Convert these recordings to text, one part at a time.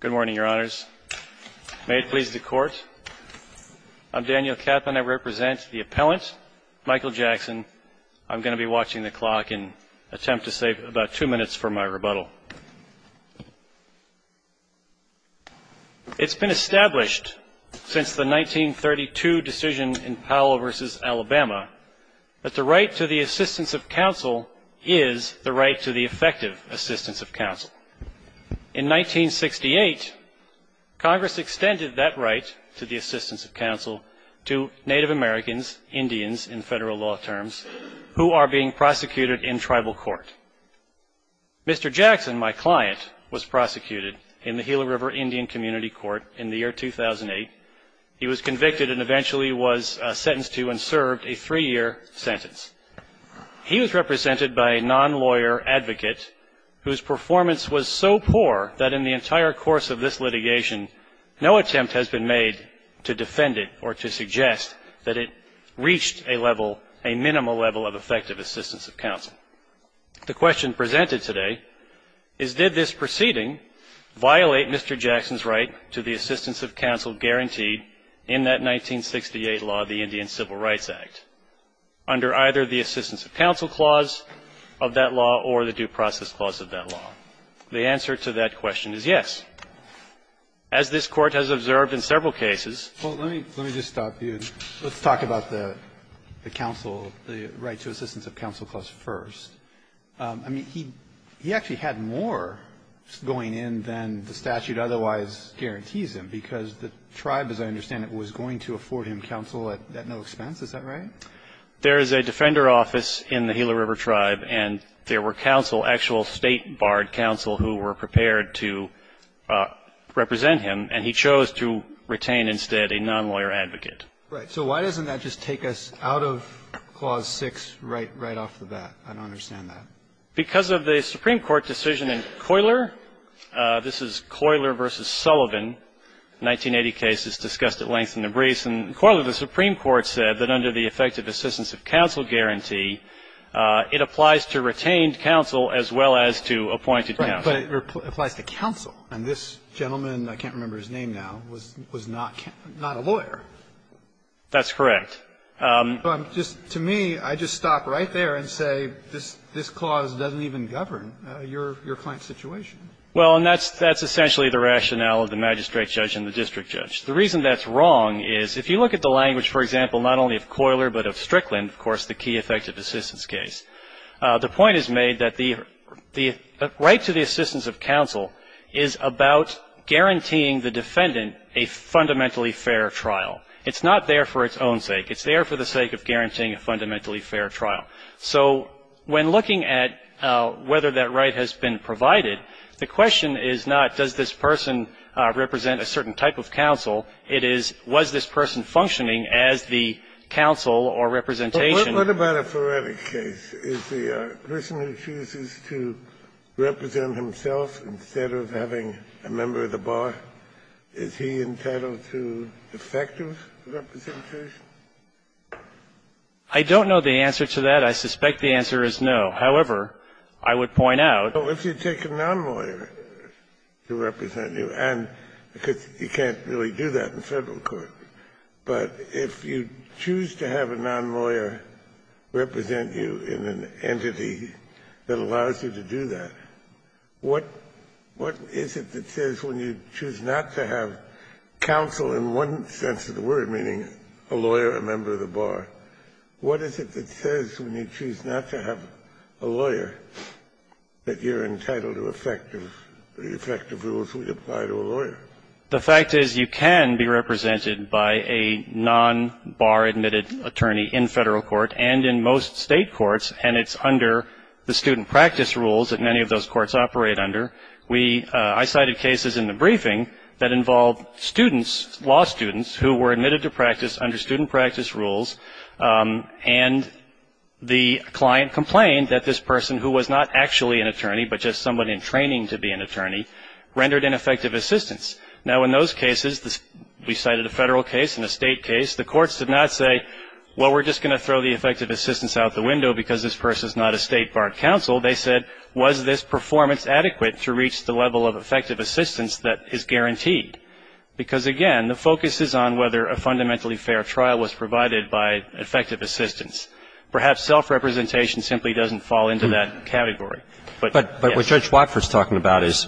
Good morning, your honors. May it please the court. I'm Daniel Kaplan. I represent the appellant Michael Jackson. I'm going to be watching the clock and attempt to save about two minutes for my rebuttal. It's been established since the 1932 decision in Powell v. Alabama that the right to the assistance of counsel is the right to the effective assistance of counsel. In 1968, Congress extended that right to the assistance of counsel to Native Americans, Indians in federal law terms, who are being prosecuted in tribal court. Mr. Jackson, my client, was prosecuted in the Gila River Indian Community Court in the year 2008. He was convicted and eventually was sentenced to and served a three-year sentence. He was represented by a non-lawyer advocate whose performance was so poor that in the entire course of this litigation, no attempt has been made to defend it or to suggest that it reached a level, a minimal level of effective assistance of counsel. The question presented today is, did this proceeding violate Mr. Jackson's right to the assistance of counsel guaranteed in that 1968 law, the Indian Civil Rights Act, under either the assistance of counsel clause of that law or the due process clause of that law? The answer to that question is yes. As this Court has observed in several cases ---- I mean, he actually had more going in than the statute otherwise guarantees him, because the tribe, as I understand it, was going to afford him counsel at no expense, is that right? There is a defender office in the Gila River tribe, and there were counsel, actual State barred counsel, who were prepared to represent him, and he chose to retain instead a non-lawyer advocate. Right. So why doesn't that just take us out of clause 6 right off the bat? I don't understand that. Because of the Supreme Court decision in Coyler, this is Coyler v. Sullivan, 1980 case that's discussed at length in the briefs. And in Coyler, the Supreme Court said that under the effective assistance of counsel guarantee, it applies to retained counsel as well as to appointed counsel. Right, but it applies to counsel. And this gentleman, I can't remember his name now, was not a lawyer. That's correct. To me, I just stop right there and say this clause doesn't even govern your client's situation. Well, and that's essentially the rationale of the magistrate judge and the district judge. The reason that's wrong is if you look at the language, for example, not only of Coyler but of Strickland, of course, the key effective assistance case, the point is made that the right to the assistance of counsel is about guaranteeing the defendant a fundamentally fair trial. It's not there for its own sake. It's there for the sake of guaranteeing a fundamentally fair trial. So when looking at whether that right has been provided, the question is not does this person represent a certain type of counsel, it is was this person functioning as the counsel or representation. What about a forensic case? Is the person who chooses to represent himself instead of having a member of the bar, is he entitled to effective representation? I don't know the answer to that. I suspect the answer is no. However, I would point out. Well, if you take a nonlawyer to represent you, and because you can't really do that in Federal court, but if you choose to have a nonlawyer represent you in an entity that allows you to do that, what is it that says when you choose not to have counsel in one sense of the word, meaning a lawyer, a member of the bar, what is it that says when you choose not to have a lawyer that you're entitled to effective rules when you apply to a lawyer? The fact is you can be represented by a non-bar-admitted attorney in Federal court and in most State courts, and it's under the student practice rules that many of those courts operate under. I cited cases in the briefing that involved students, law students, who were admitted to practice under student practice rules, and the client complained that this person who was not actually an attorney but just someone in training to be an attorney rendered ineffective assistance. Now, in those cases, we cited a Federal case and a State case, the courts did not say, well, we're just going to throw the effective assistance out the window because this person is not a State-barred counsel. They said, was this performance adequate to reach the level of effective assistance that is guaranteed? Because, again, the focus is on whether a fundamentally fair trial was provided by effective assistance. Perhaps self-representation simply doesn't fall into that category. But what Judge Watford is talking about is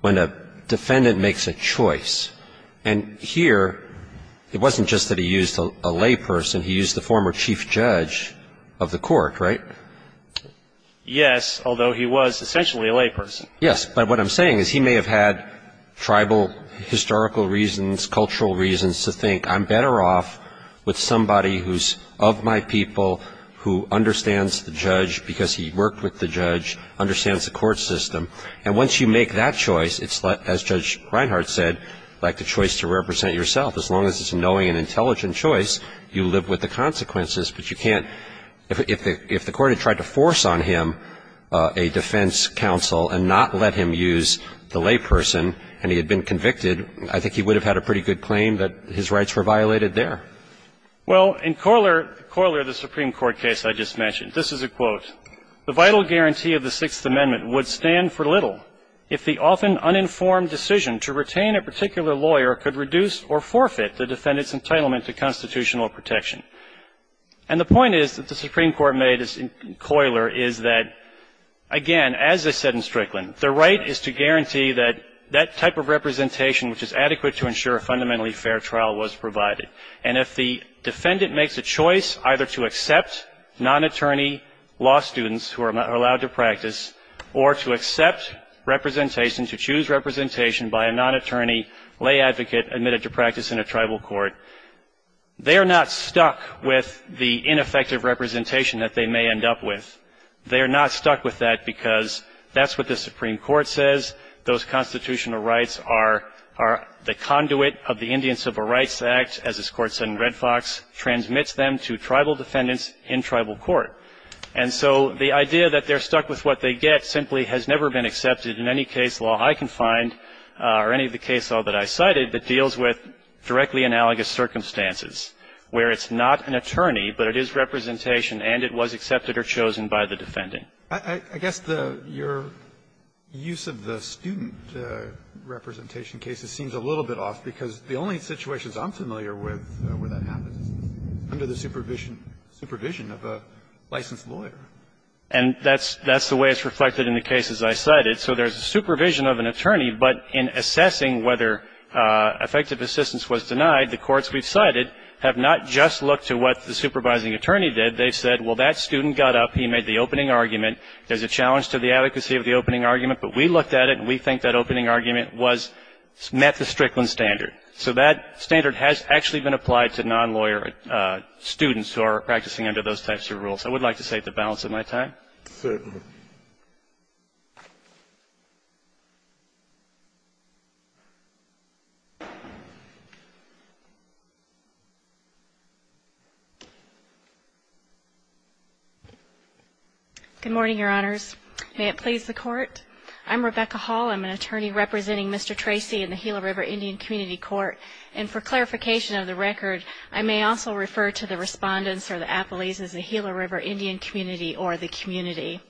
when a defendant makes a choice, and here it wasn't just that he used a layperson, he used the former chief judge of the court, right? Yes, although he was essentially a layperson. Yes, but what I'm saying is he may have had tribal historical reasons, cultural reasons to think I'm better off with somebody who's of my people, who understands the judge because he worked with the judge, understands the court system. And once you make that choice, it's, as Judge Reinhart said, like the choice to represent yourself. As long as it's a knowing and intelligent choice, you live with the consequences. But you can't – if the court had tried to force on him a defense counsel and not let him use the layperson and he had been convicted, I think he would have had a pretty good claim that his rights were violated there. Well, in Coyler, the Supreme Court case I just mentioned, this is a quote. The vital guarantee of the Sixth Amendment would stand for little if the often uninformed decision to retain a particular lawyer could reduce or forfeit the defendant's entitlement to constitutional protection. And the point is that the Supreme Court made in Coyler is that, again, as they said in Strickland, the right is to guarantee that that type of representation, which is adequate to ensure a fundamentally fair trial, was provided. And if the defendant makes a choice either to accept non-attorney law students who are allowed to practice or to accept representation, to choose representation by a non-attorney lay advocate admitted to practice in a tribal court, they are not stuck with the ineffective representation that they may end up with. They are not stuck with that because that's what the Supreme Court says. Those constitutional rights are the conduit of the Indian Civil Rights Act as this Court said in Red Fox, transmits them to tribal defendants in tribal court. And so the idea that they're stuck with what they get simply has never been accepted in any case law I can find or any of the case law that I cited that deals with directly analogous circumstances, where it's not an attorney, but it is representation, and it was accepted or chosen by the defendant. I guess the your use of the student representation cases seems a little bit off because the only situations I'm familiar with where that happens is under the supervision of a licensed lawyer. And that's the way it's reflected in the cases I cited. So there's supervision of an attorney, but in assessing whether effective assistance was denied, the courts we've cited have not just looked to what the supervising attorney did. They've said, well, that student got up, he made the opening argument. There's a challenge to the adequacy of the opening argument, but we looked at it and we think that opening argument met the Strickland standard. So that standard has actually been applied to non-lawyer students who are practicing under those types of rules. I would like to say at the balance of my time. Sotomayor. Good morning, Your Honors. May it please the Court. I'm Rebecca Hall. I'm an attorney representing Mr. Tracy in the Gila River Indian Community Court. And for clarification of the record, I may also refer to the respondents or the appellees as the Gila River Indian Community or the community.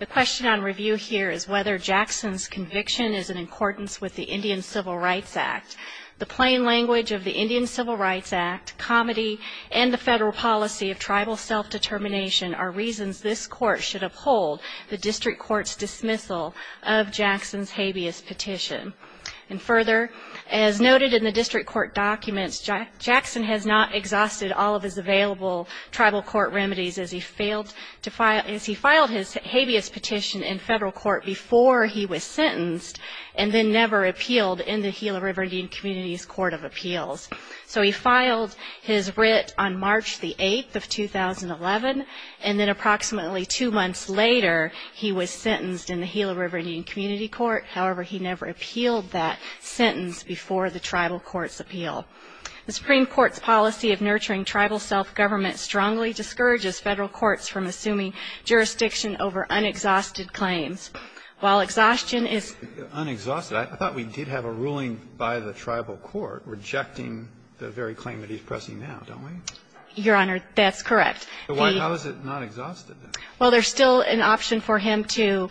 The question on review here is whether Jackson's conviction is in accordance with the Indian Civil Rights Act. The plain language of the Indian Civil Rights Act, comedy, and the federal policy of tribal self-determination are reasons this court should uphold the district court's dismissal of Jackson's habeas petition. And further, as noted in the district court documents, Jackson has not exhausted all of his available tribal court remedies as he filed his habeas petition in federal court before he was sentenced and then never appealed in the Gila River Indian Community's Court of Appeals. So he filed his writ on March the 8th of 2011, and then approximately two months later, he was sentenced in the Gila River Indian Community Court. However, he never appealed that sentence before the tribal court's appeal. The Supreme Court's policy of nurturing tribal self-government strongly discourages federal courts from assuming jurisdiction over unexhausted claims. While exhaustion is... Unexhausted. I thought we did have a ruling by the tribal court rejecting the very claim that he's pressing now, don't we? Your Honor, that's correct. Why was it not exhausted then? Well, there's still an option for him to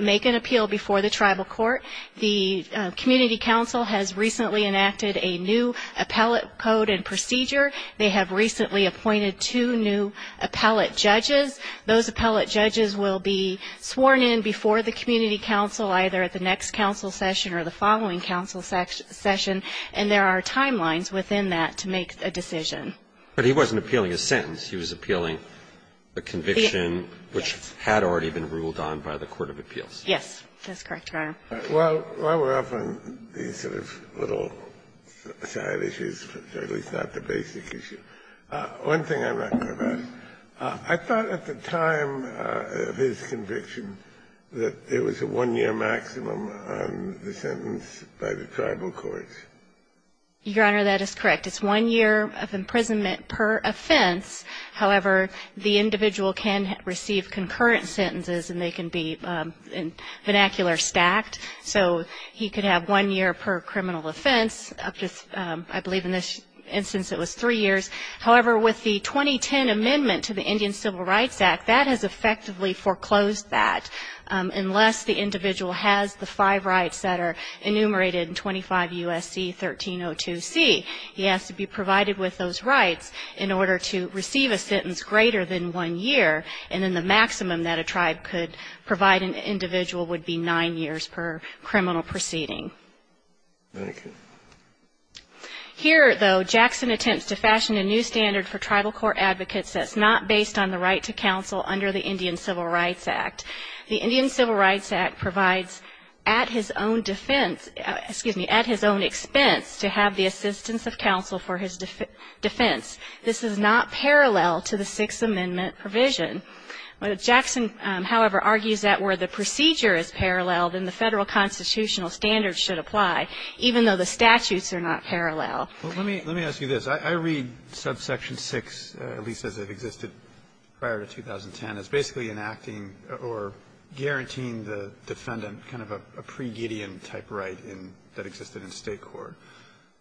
make an appeal before the tribal court. The community council has recently enacted a new appellate code and procedure. They have recently appointed two new appellate judges. Those appellate judges will be sworn in before the community council, either at the next council session or the following council session, and there are timelines within that to make a decision. But he wasn't appealing a sentence. He was appealing a conviction which had already been ruled on by the court of appeals. Yes, that's correct, Your Honor. While we're off on these sort of little side issues, at least not the basic issue, one thing I'd like to ask. I thought at the time of his conviction that it was a one-year maximum on the sentence by the tribal courts. Your Honor, that is correct. It's one year of imprisonment per offense. However, the individual can receive concurrent sentences, and they can be vernacular stacked. So, he could have one year per criminal offense up to, I believe in this instance, it was three years. However, with the 2010 amendment to the Indian Civil Rights Act, that has effectively foreclosed that unless the individual has the five rights that are enumerated in 25 U.S.C. 1302C. He has to be provided with those rights in order to receive a sentence greater than one year, and then the maximum that a tribe could provide an individual would be nine years per criminal proceeding. Thank you. Here, though, Jackson attempts to fashion a new standard for tribal court advocates that's not based on the right to counsel under the Indian Civil Rights Act. The Indian Civil Rights Act provides at his own defense, excuse me, at his own expense to have the assistance of counsel for his defense. This is not parallel to the Sixth Amendment provision. Jackson, however, argues that where the procedure is parallel, then the Federal constitutional standards should apply, even though the statutes are not parallel. Well, let me ask you this. I read subsection 6, at least as it existed prior to 2010, as basically enacting or guaranteeing the defendant kind of a pre-Gideon type right that existed in state court.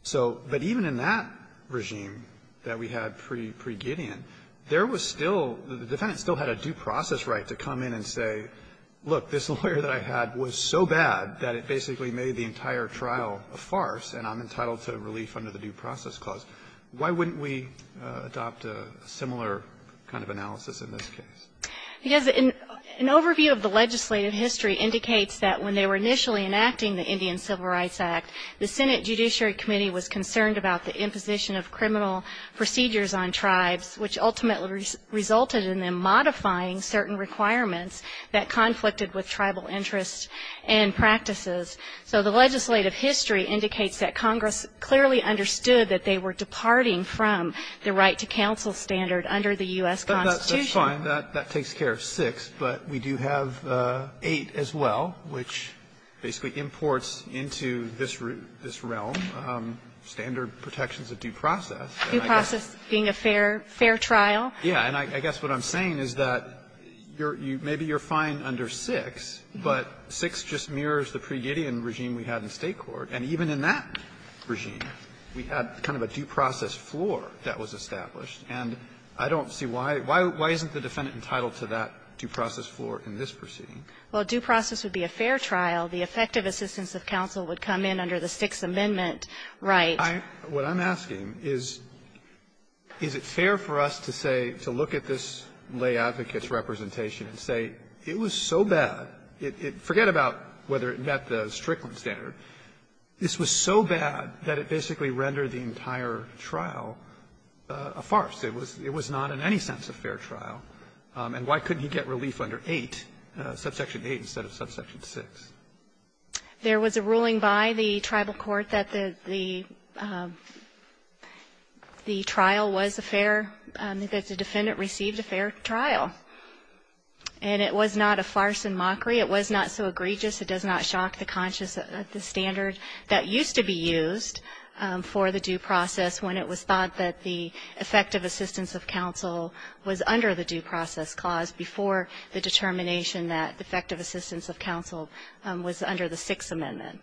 So but even in that regime that we had pre-Gideon, there was still the defendant still had a due process right to come in and say, look, this lawyer that I had was so bad that it basically made the entire trial a farce, and I'm entitled to relief under the due process clause. Why wouldn't we adopt a similar kind of analysis in this case? Because an overview of the legislative history indicates that when they were initially enacting the Indian Civil Rights Act, the Senate Judiciary Committee was concerned about the imposition of criminal procedures on tribes, which ultimately resulted in them modifying certain requirements that conflicted with tribal interests and practices. So the legislative history indicates that Congress clearly understood that they were departing from the right-to-counsel standard under the U.S. Constitution. Roberts, that's fine. That takes care of 6, but we do have 8 as well, which basically imports into this realm standard protections of due process. Due process being a fair trial? Yeah. And I guess what I'm saying is that you're you maybe you're fine under 6, but 6 just mirrors the pre-Gideon regime we had in state court. And even in that regime, we had kind of a due process floor that was established. And I don't see why why why isn't the defendant entitled to that due process floor in this proceeding? Well, due process would be a fair trial. The effective assistance of counsel would come in under the Sixth Amendment right. I what I'm asking is, is it fair for us to say to look at this lay advocate's representation and say it was so bad, forget about whether it met the Strickland It was not in any sense a fair trial. And why couldn't he get relief under 8, subsection 8, instead of subsection 6? There was a ruling by the tribal court that the the the trial was a fair that the defendant received a fair trial. And it was not a farce and mockery. It was not so egregious. It does not shock the conscious that the standard that used to be used for the due process when it was thought that the effective assistance of counsel was under the due process clause before the determination that effective assistance of counsel was under the Sixth Amendment.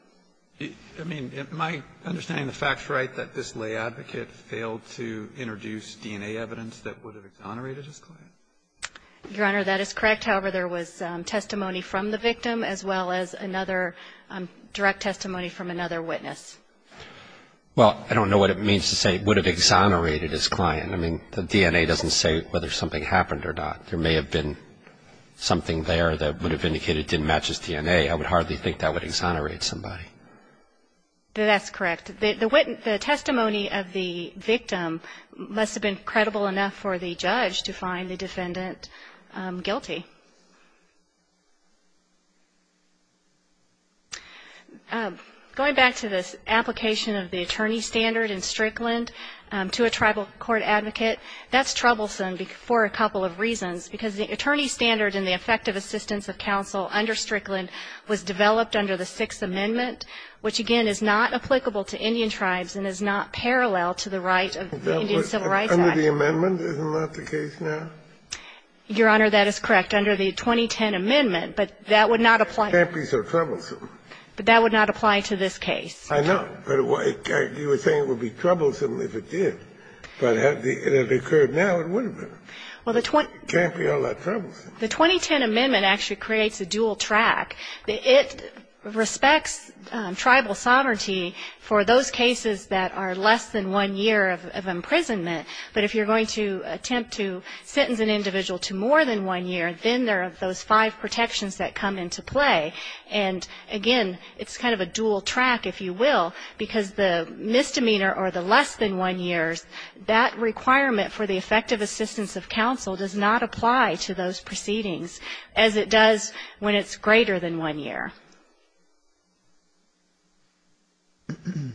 I mean, am I understanding the facts right that this lay advocate failed to introduce DNA evidence that would have exonerated his client? Your Honor, that is correct. However, there was testimony from the victim as well as another direct testimony from another witness. Well, I don't know what it means to say would have exonerated his client. I mean, the DNA doesn't say whether something happened or not. There may have been something there that would have indicated didn't match his DNA. I would hardly think that would exonerate somebody. That's correct. The testimony of the victim must have been credible enough for the judge to find the defendant guilty. Going back to this application of the attorney standard in Strickland to a tribal court advocate, that's troublesome for a couple of reasons, because the attorney standard in the effective assistance of counsel under Strickland was developed under the Sixth Amendment, which, again, is not applicable to Indian tribes and is not parallel to the right of the Indian Civil Rights Act. Under the amendment? Isn't that the case now? Your Honor, that is correct. It's under the 2010 amendment, but that would not apply. It can't be so troublesome. But that would not apply to this case. I know. But you were saying it would be troublesome if it did. But had it occurred now, it would have been. It can't be all that troublesome. The 2010 amendment actually creates a dual track. It respects tribal sovereignty for those cases that are less than one year of imprisonment. But if you're going to attempt to sentence an individual to more than one year, then there are those five protections that come into play. And, again, it's kind of a dual track, if you will, because the misdemeanor or the less than one years, that requirement for the effective assistance of counsel does not apply to those proceedings as it does when it's greater than one year. Your Honor.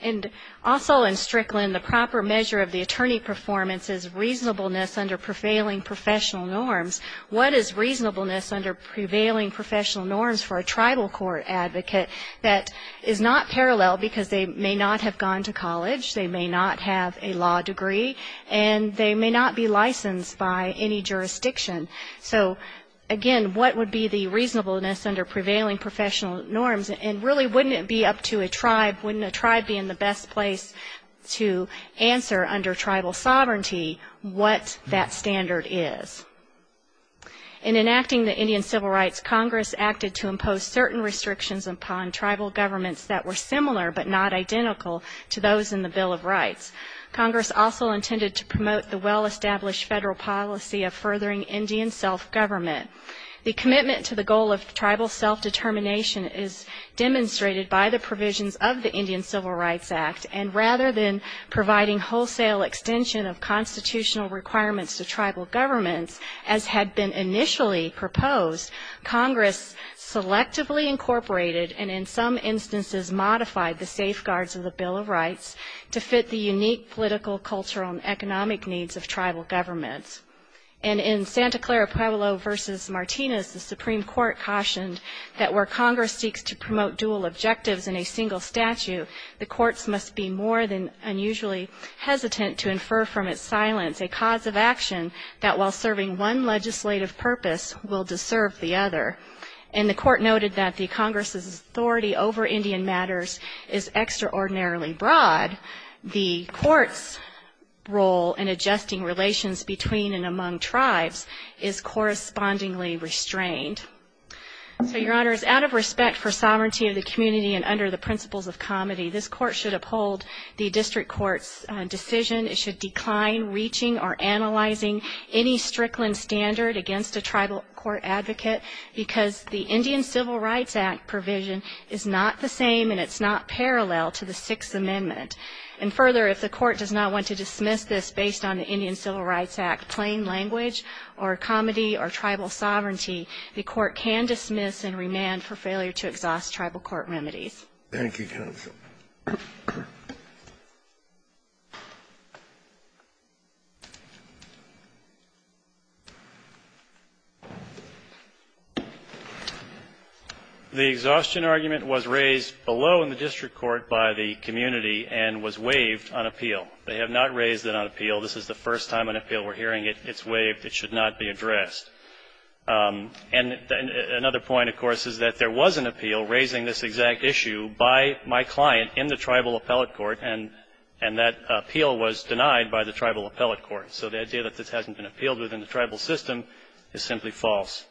And also in Strickland, the proper measure of the attorney performance is reasonableness under prevailing professional norms. What is reasonableness under prevailing professional norms for a tribal court advocate that is not parallel because they may not have gone to college, they may not have a law degree, and they may not be licensed by any jurisdiction? So, again, what would be the reasonableness under prevailing professional norms, and really wouldn't it be up to a tribe, wouldn't a tribe be in the best place to answer under tribal sovereignty what that standard is? In enacting the Indian civil rights, Congress acted to impose certain restrictions upon tribal governments that were similar but not identical to those in the Bill of Rights. Congress also intended to promote the well-established federal policy of furthering Indian self-government. The commitment to the goal of tribal self-determination is demonstrated by the provisions of the Indian Civil Rights Act, and rather than providing wholesale extension of constitutional requirements to tribal governments, as had been initially proposed, Congress selectively incorporated and in some instances modified the safeguards of the Bill of Rights to fit the unique political, cultural, and economic needs of tribal governments. And in Santa Clara Pueblo v. Martinez, the Supreme Court cautioned that where Congress seeks to promote dual objectives in a single statute, the courts must be more than unusually hesitant to infer from its silence a cause of action that while serving one legislative purpose, will disserve the other. And the Court noted that the Congress's authority over Indian matters is adjusting relations between and among tribes is correspondingly restrained. So, Your Honors, out of respect for sovereignty of the community and under the principles of comity, this Court should uphold the district court's decision. It should decline reaching or analyzing any Strickland standard against a tribal court advocate, because the Indian Civil Rights Act provision is not the same and it's not parallel to the Sixth Amendment. And further, if the Court does not want to dismiss this based on the Indian Civil Rights Act plain language or comity or tribal sovereignty, the Court can dismiss and remand for failure to exhaust tribal court remedies. Thank you, counsel. The exhaustion argument was raised below in the district court by the community and was waived on appeal. They have not raised it on appeal. This is the first time on appeal we're hearing it. It's waived. It should not be addressed. And another point, of course, is that there was an appeal raising this exact issue by my client in the tribal appellate court, and that appeal was denied by the tribal appellate court. So the idea that this hasn't been appealed within the tribal system is simply false.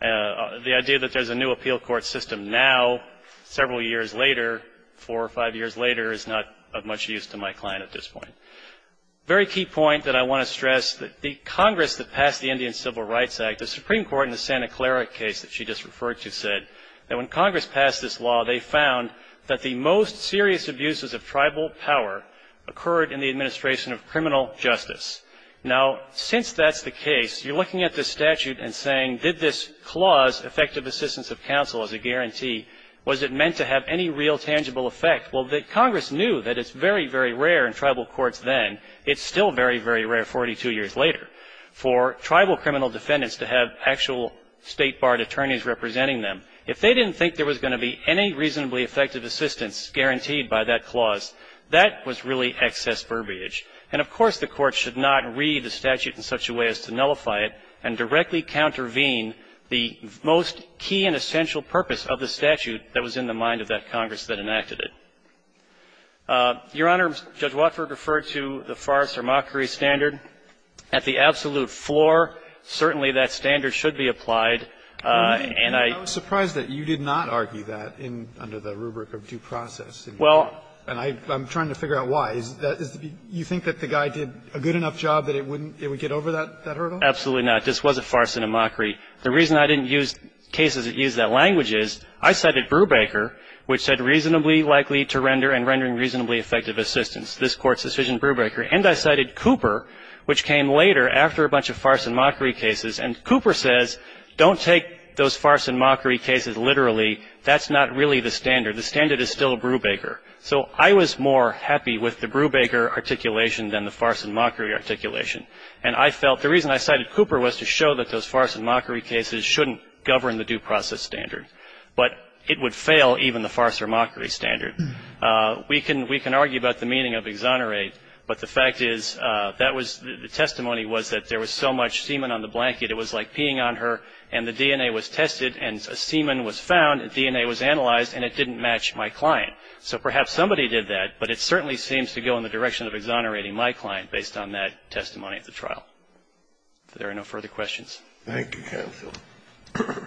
The idea that there's a new appeal court system now, several years later, four or five years later, is not of much use to my client at this point. A very key point that I want to stress, the Congress that passed the Indian Civil Rights Act, the Supreme Court in the Santa Clara case that she just referred to said that when Congress passed this law, they found that the most serious abuses of tribal power occurred in the administration of criminal justice. Now, since that's the case, you're looking at this statute and saying, did this clause, effective assistance of counsel as a guarantee, was it meant to have any real tangible effect? Well, Congress knew that it's very, very rare in tribal courts then. It's still very, very rare 42 years later for tribal criminal defendants to have actual state-barred attorneys representing them. If they didn't think there was going to be any reasonably effective assistance guaranteed by that clause, that was really excess verbiage. And, of course, the Court should not read the statute in such a way as to nullify it and directly countervene the most key and essential purpose of the statute that was in the mind of that Congress that enacted it. Your Honor, Judge Watford referred to the farce or mockery standard. At the absolute floor, certainly, that standard should be applied. And I — I was surprised that you did not argue that under the rubric of due process. Well — And I'm trying to figure out why. You think that the guy did a good enough job that it would get over that hurdle? Absolutely not. This was a farce and a mockery. The reason I didn't use cases that use that language is I cited Brubaker, which said reasonably likely to render and rendering reasonably effective assistance. This Court's decision, Brubaker. And I cited Cooper, which came later after a bunch of farce and mockery cases. And Cooper says, don't take those farce and mockery cases literally. That's not really the standard. The standard is still Brubaker. So I was more happy with the Brubaker articulation than the farce and mockery articulation. And I felt the reason I cited Cooper was to show that those farce and mockery cases shouldn't govern the due process standard, but it would fail even the farce or mockery standard. We can argue about the meaning of exonerate. But the fact is that was the testimony was that there was so much semen on the blanket, it was like peeing on her, and the DNA was tested, and semen was found, and DNA was analyzed, and it didn't match my client. So perhaps somebody did that, but it certainly seems to go in the direction of exonerating my client based on that testimony at the trial. If there are no further questions. Thank you, counsel.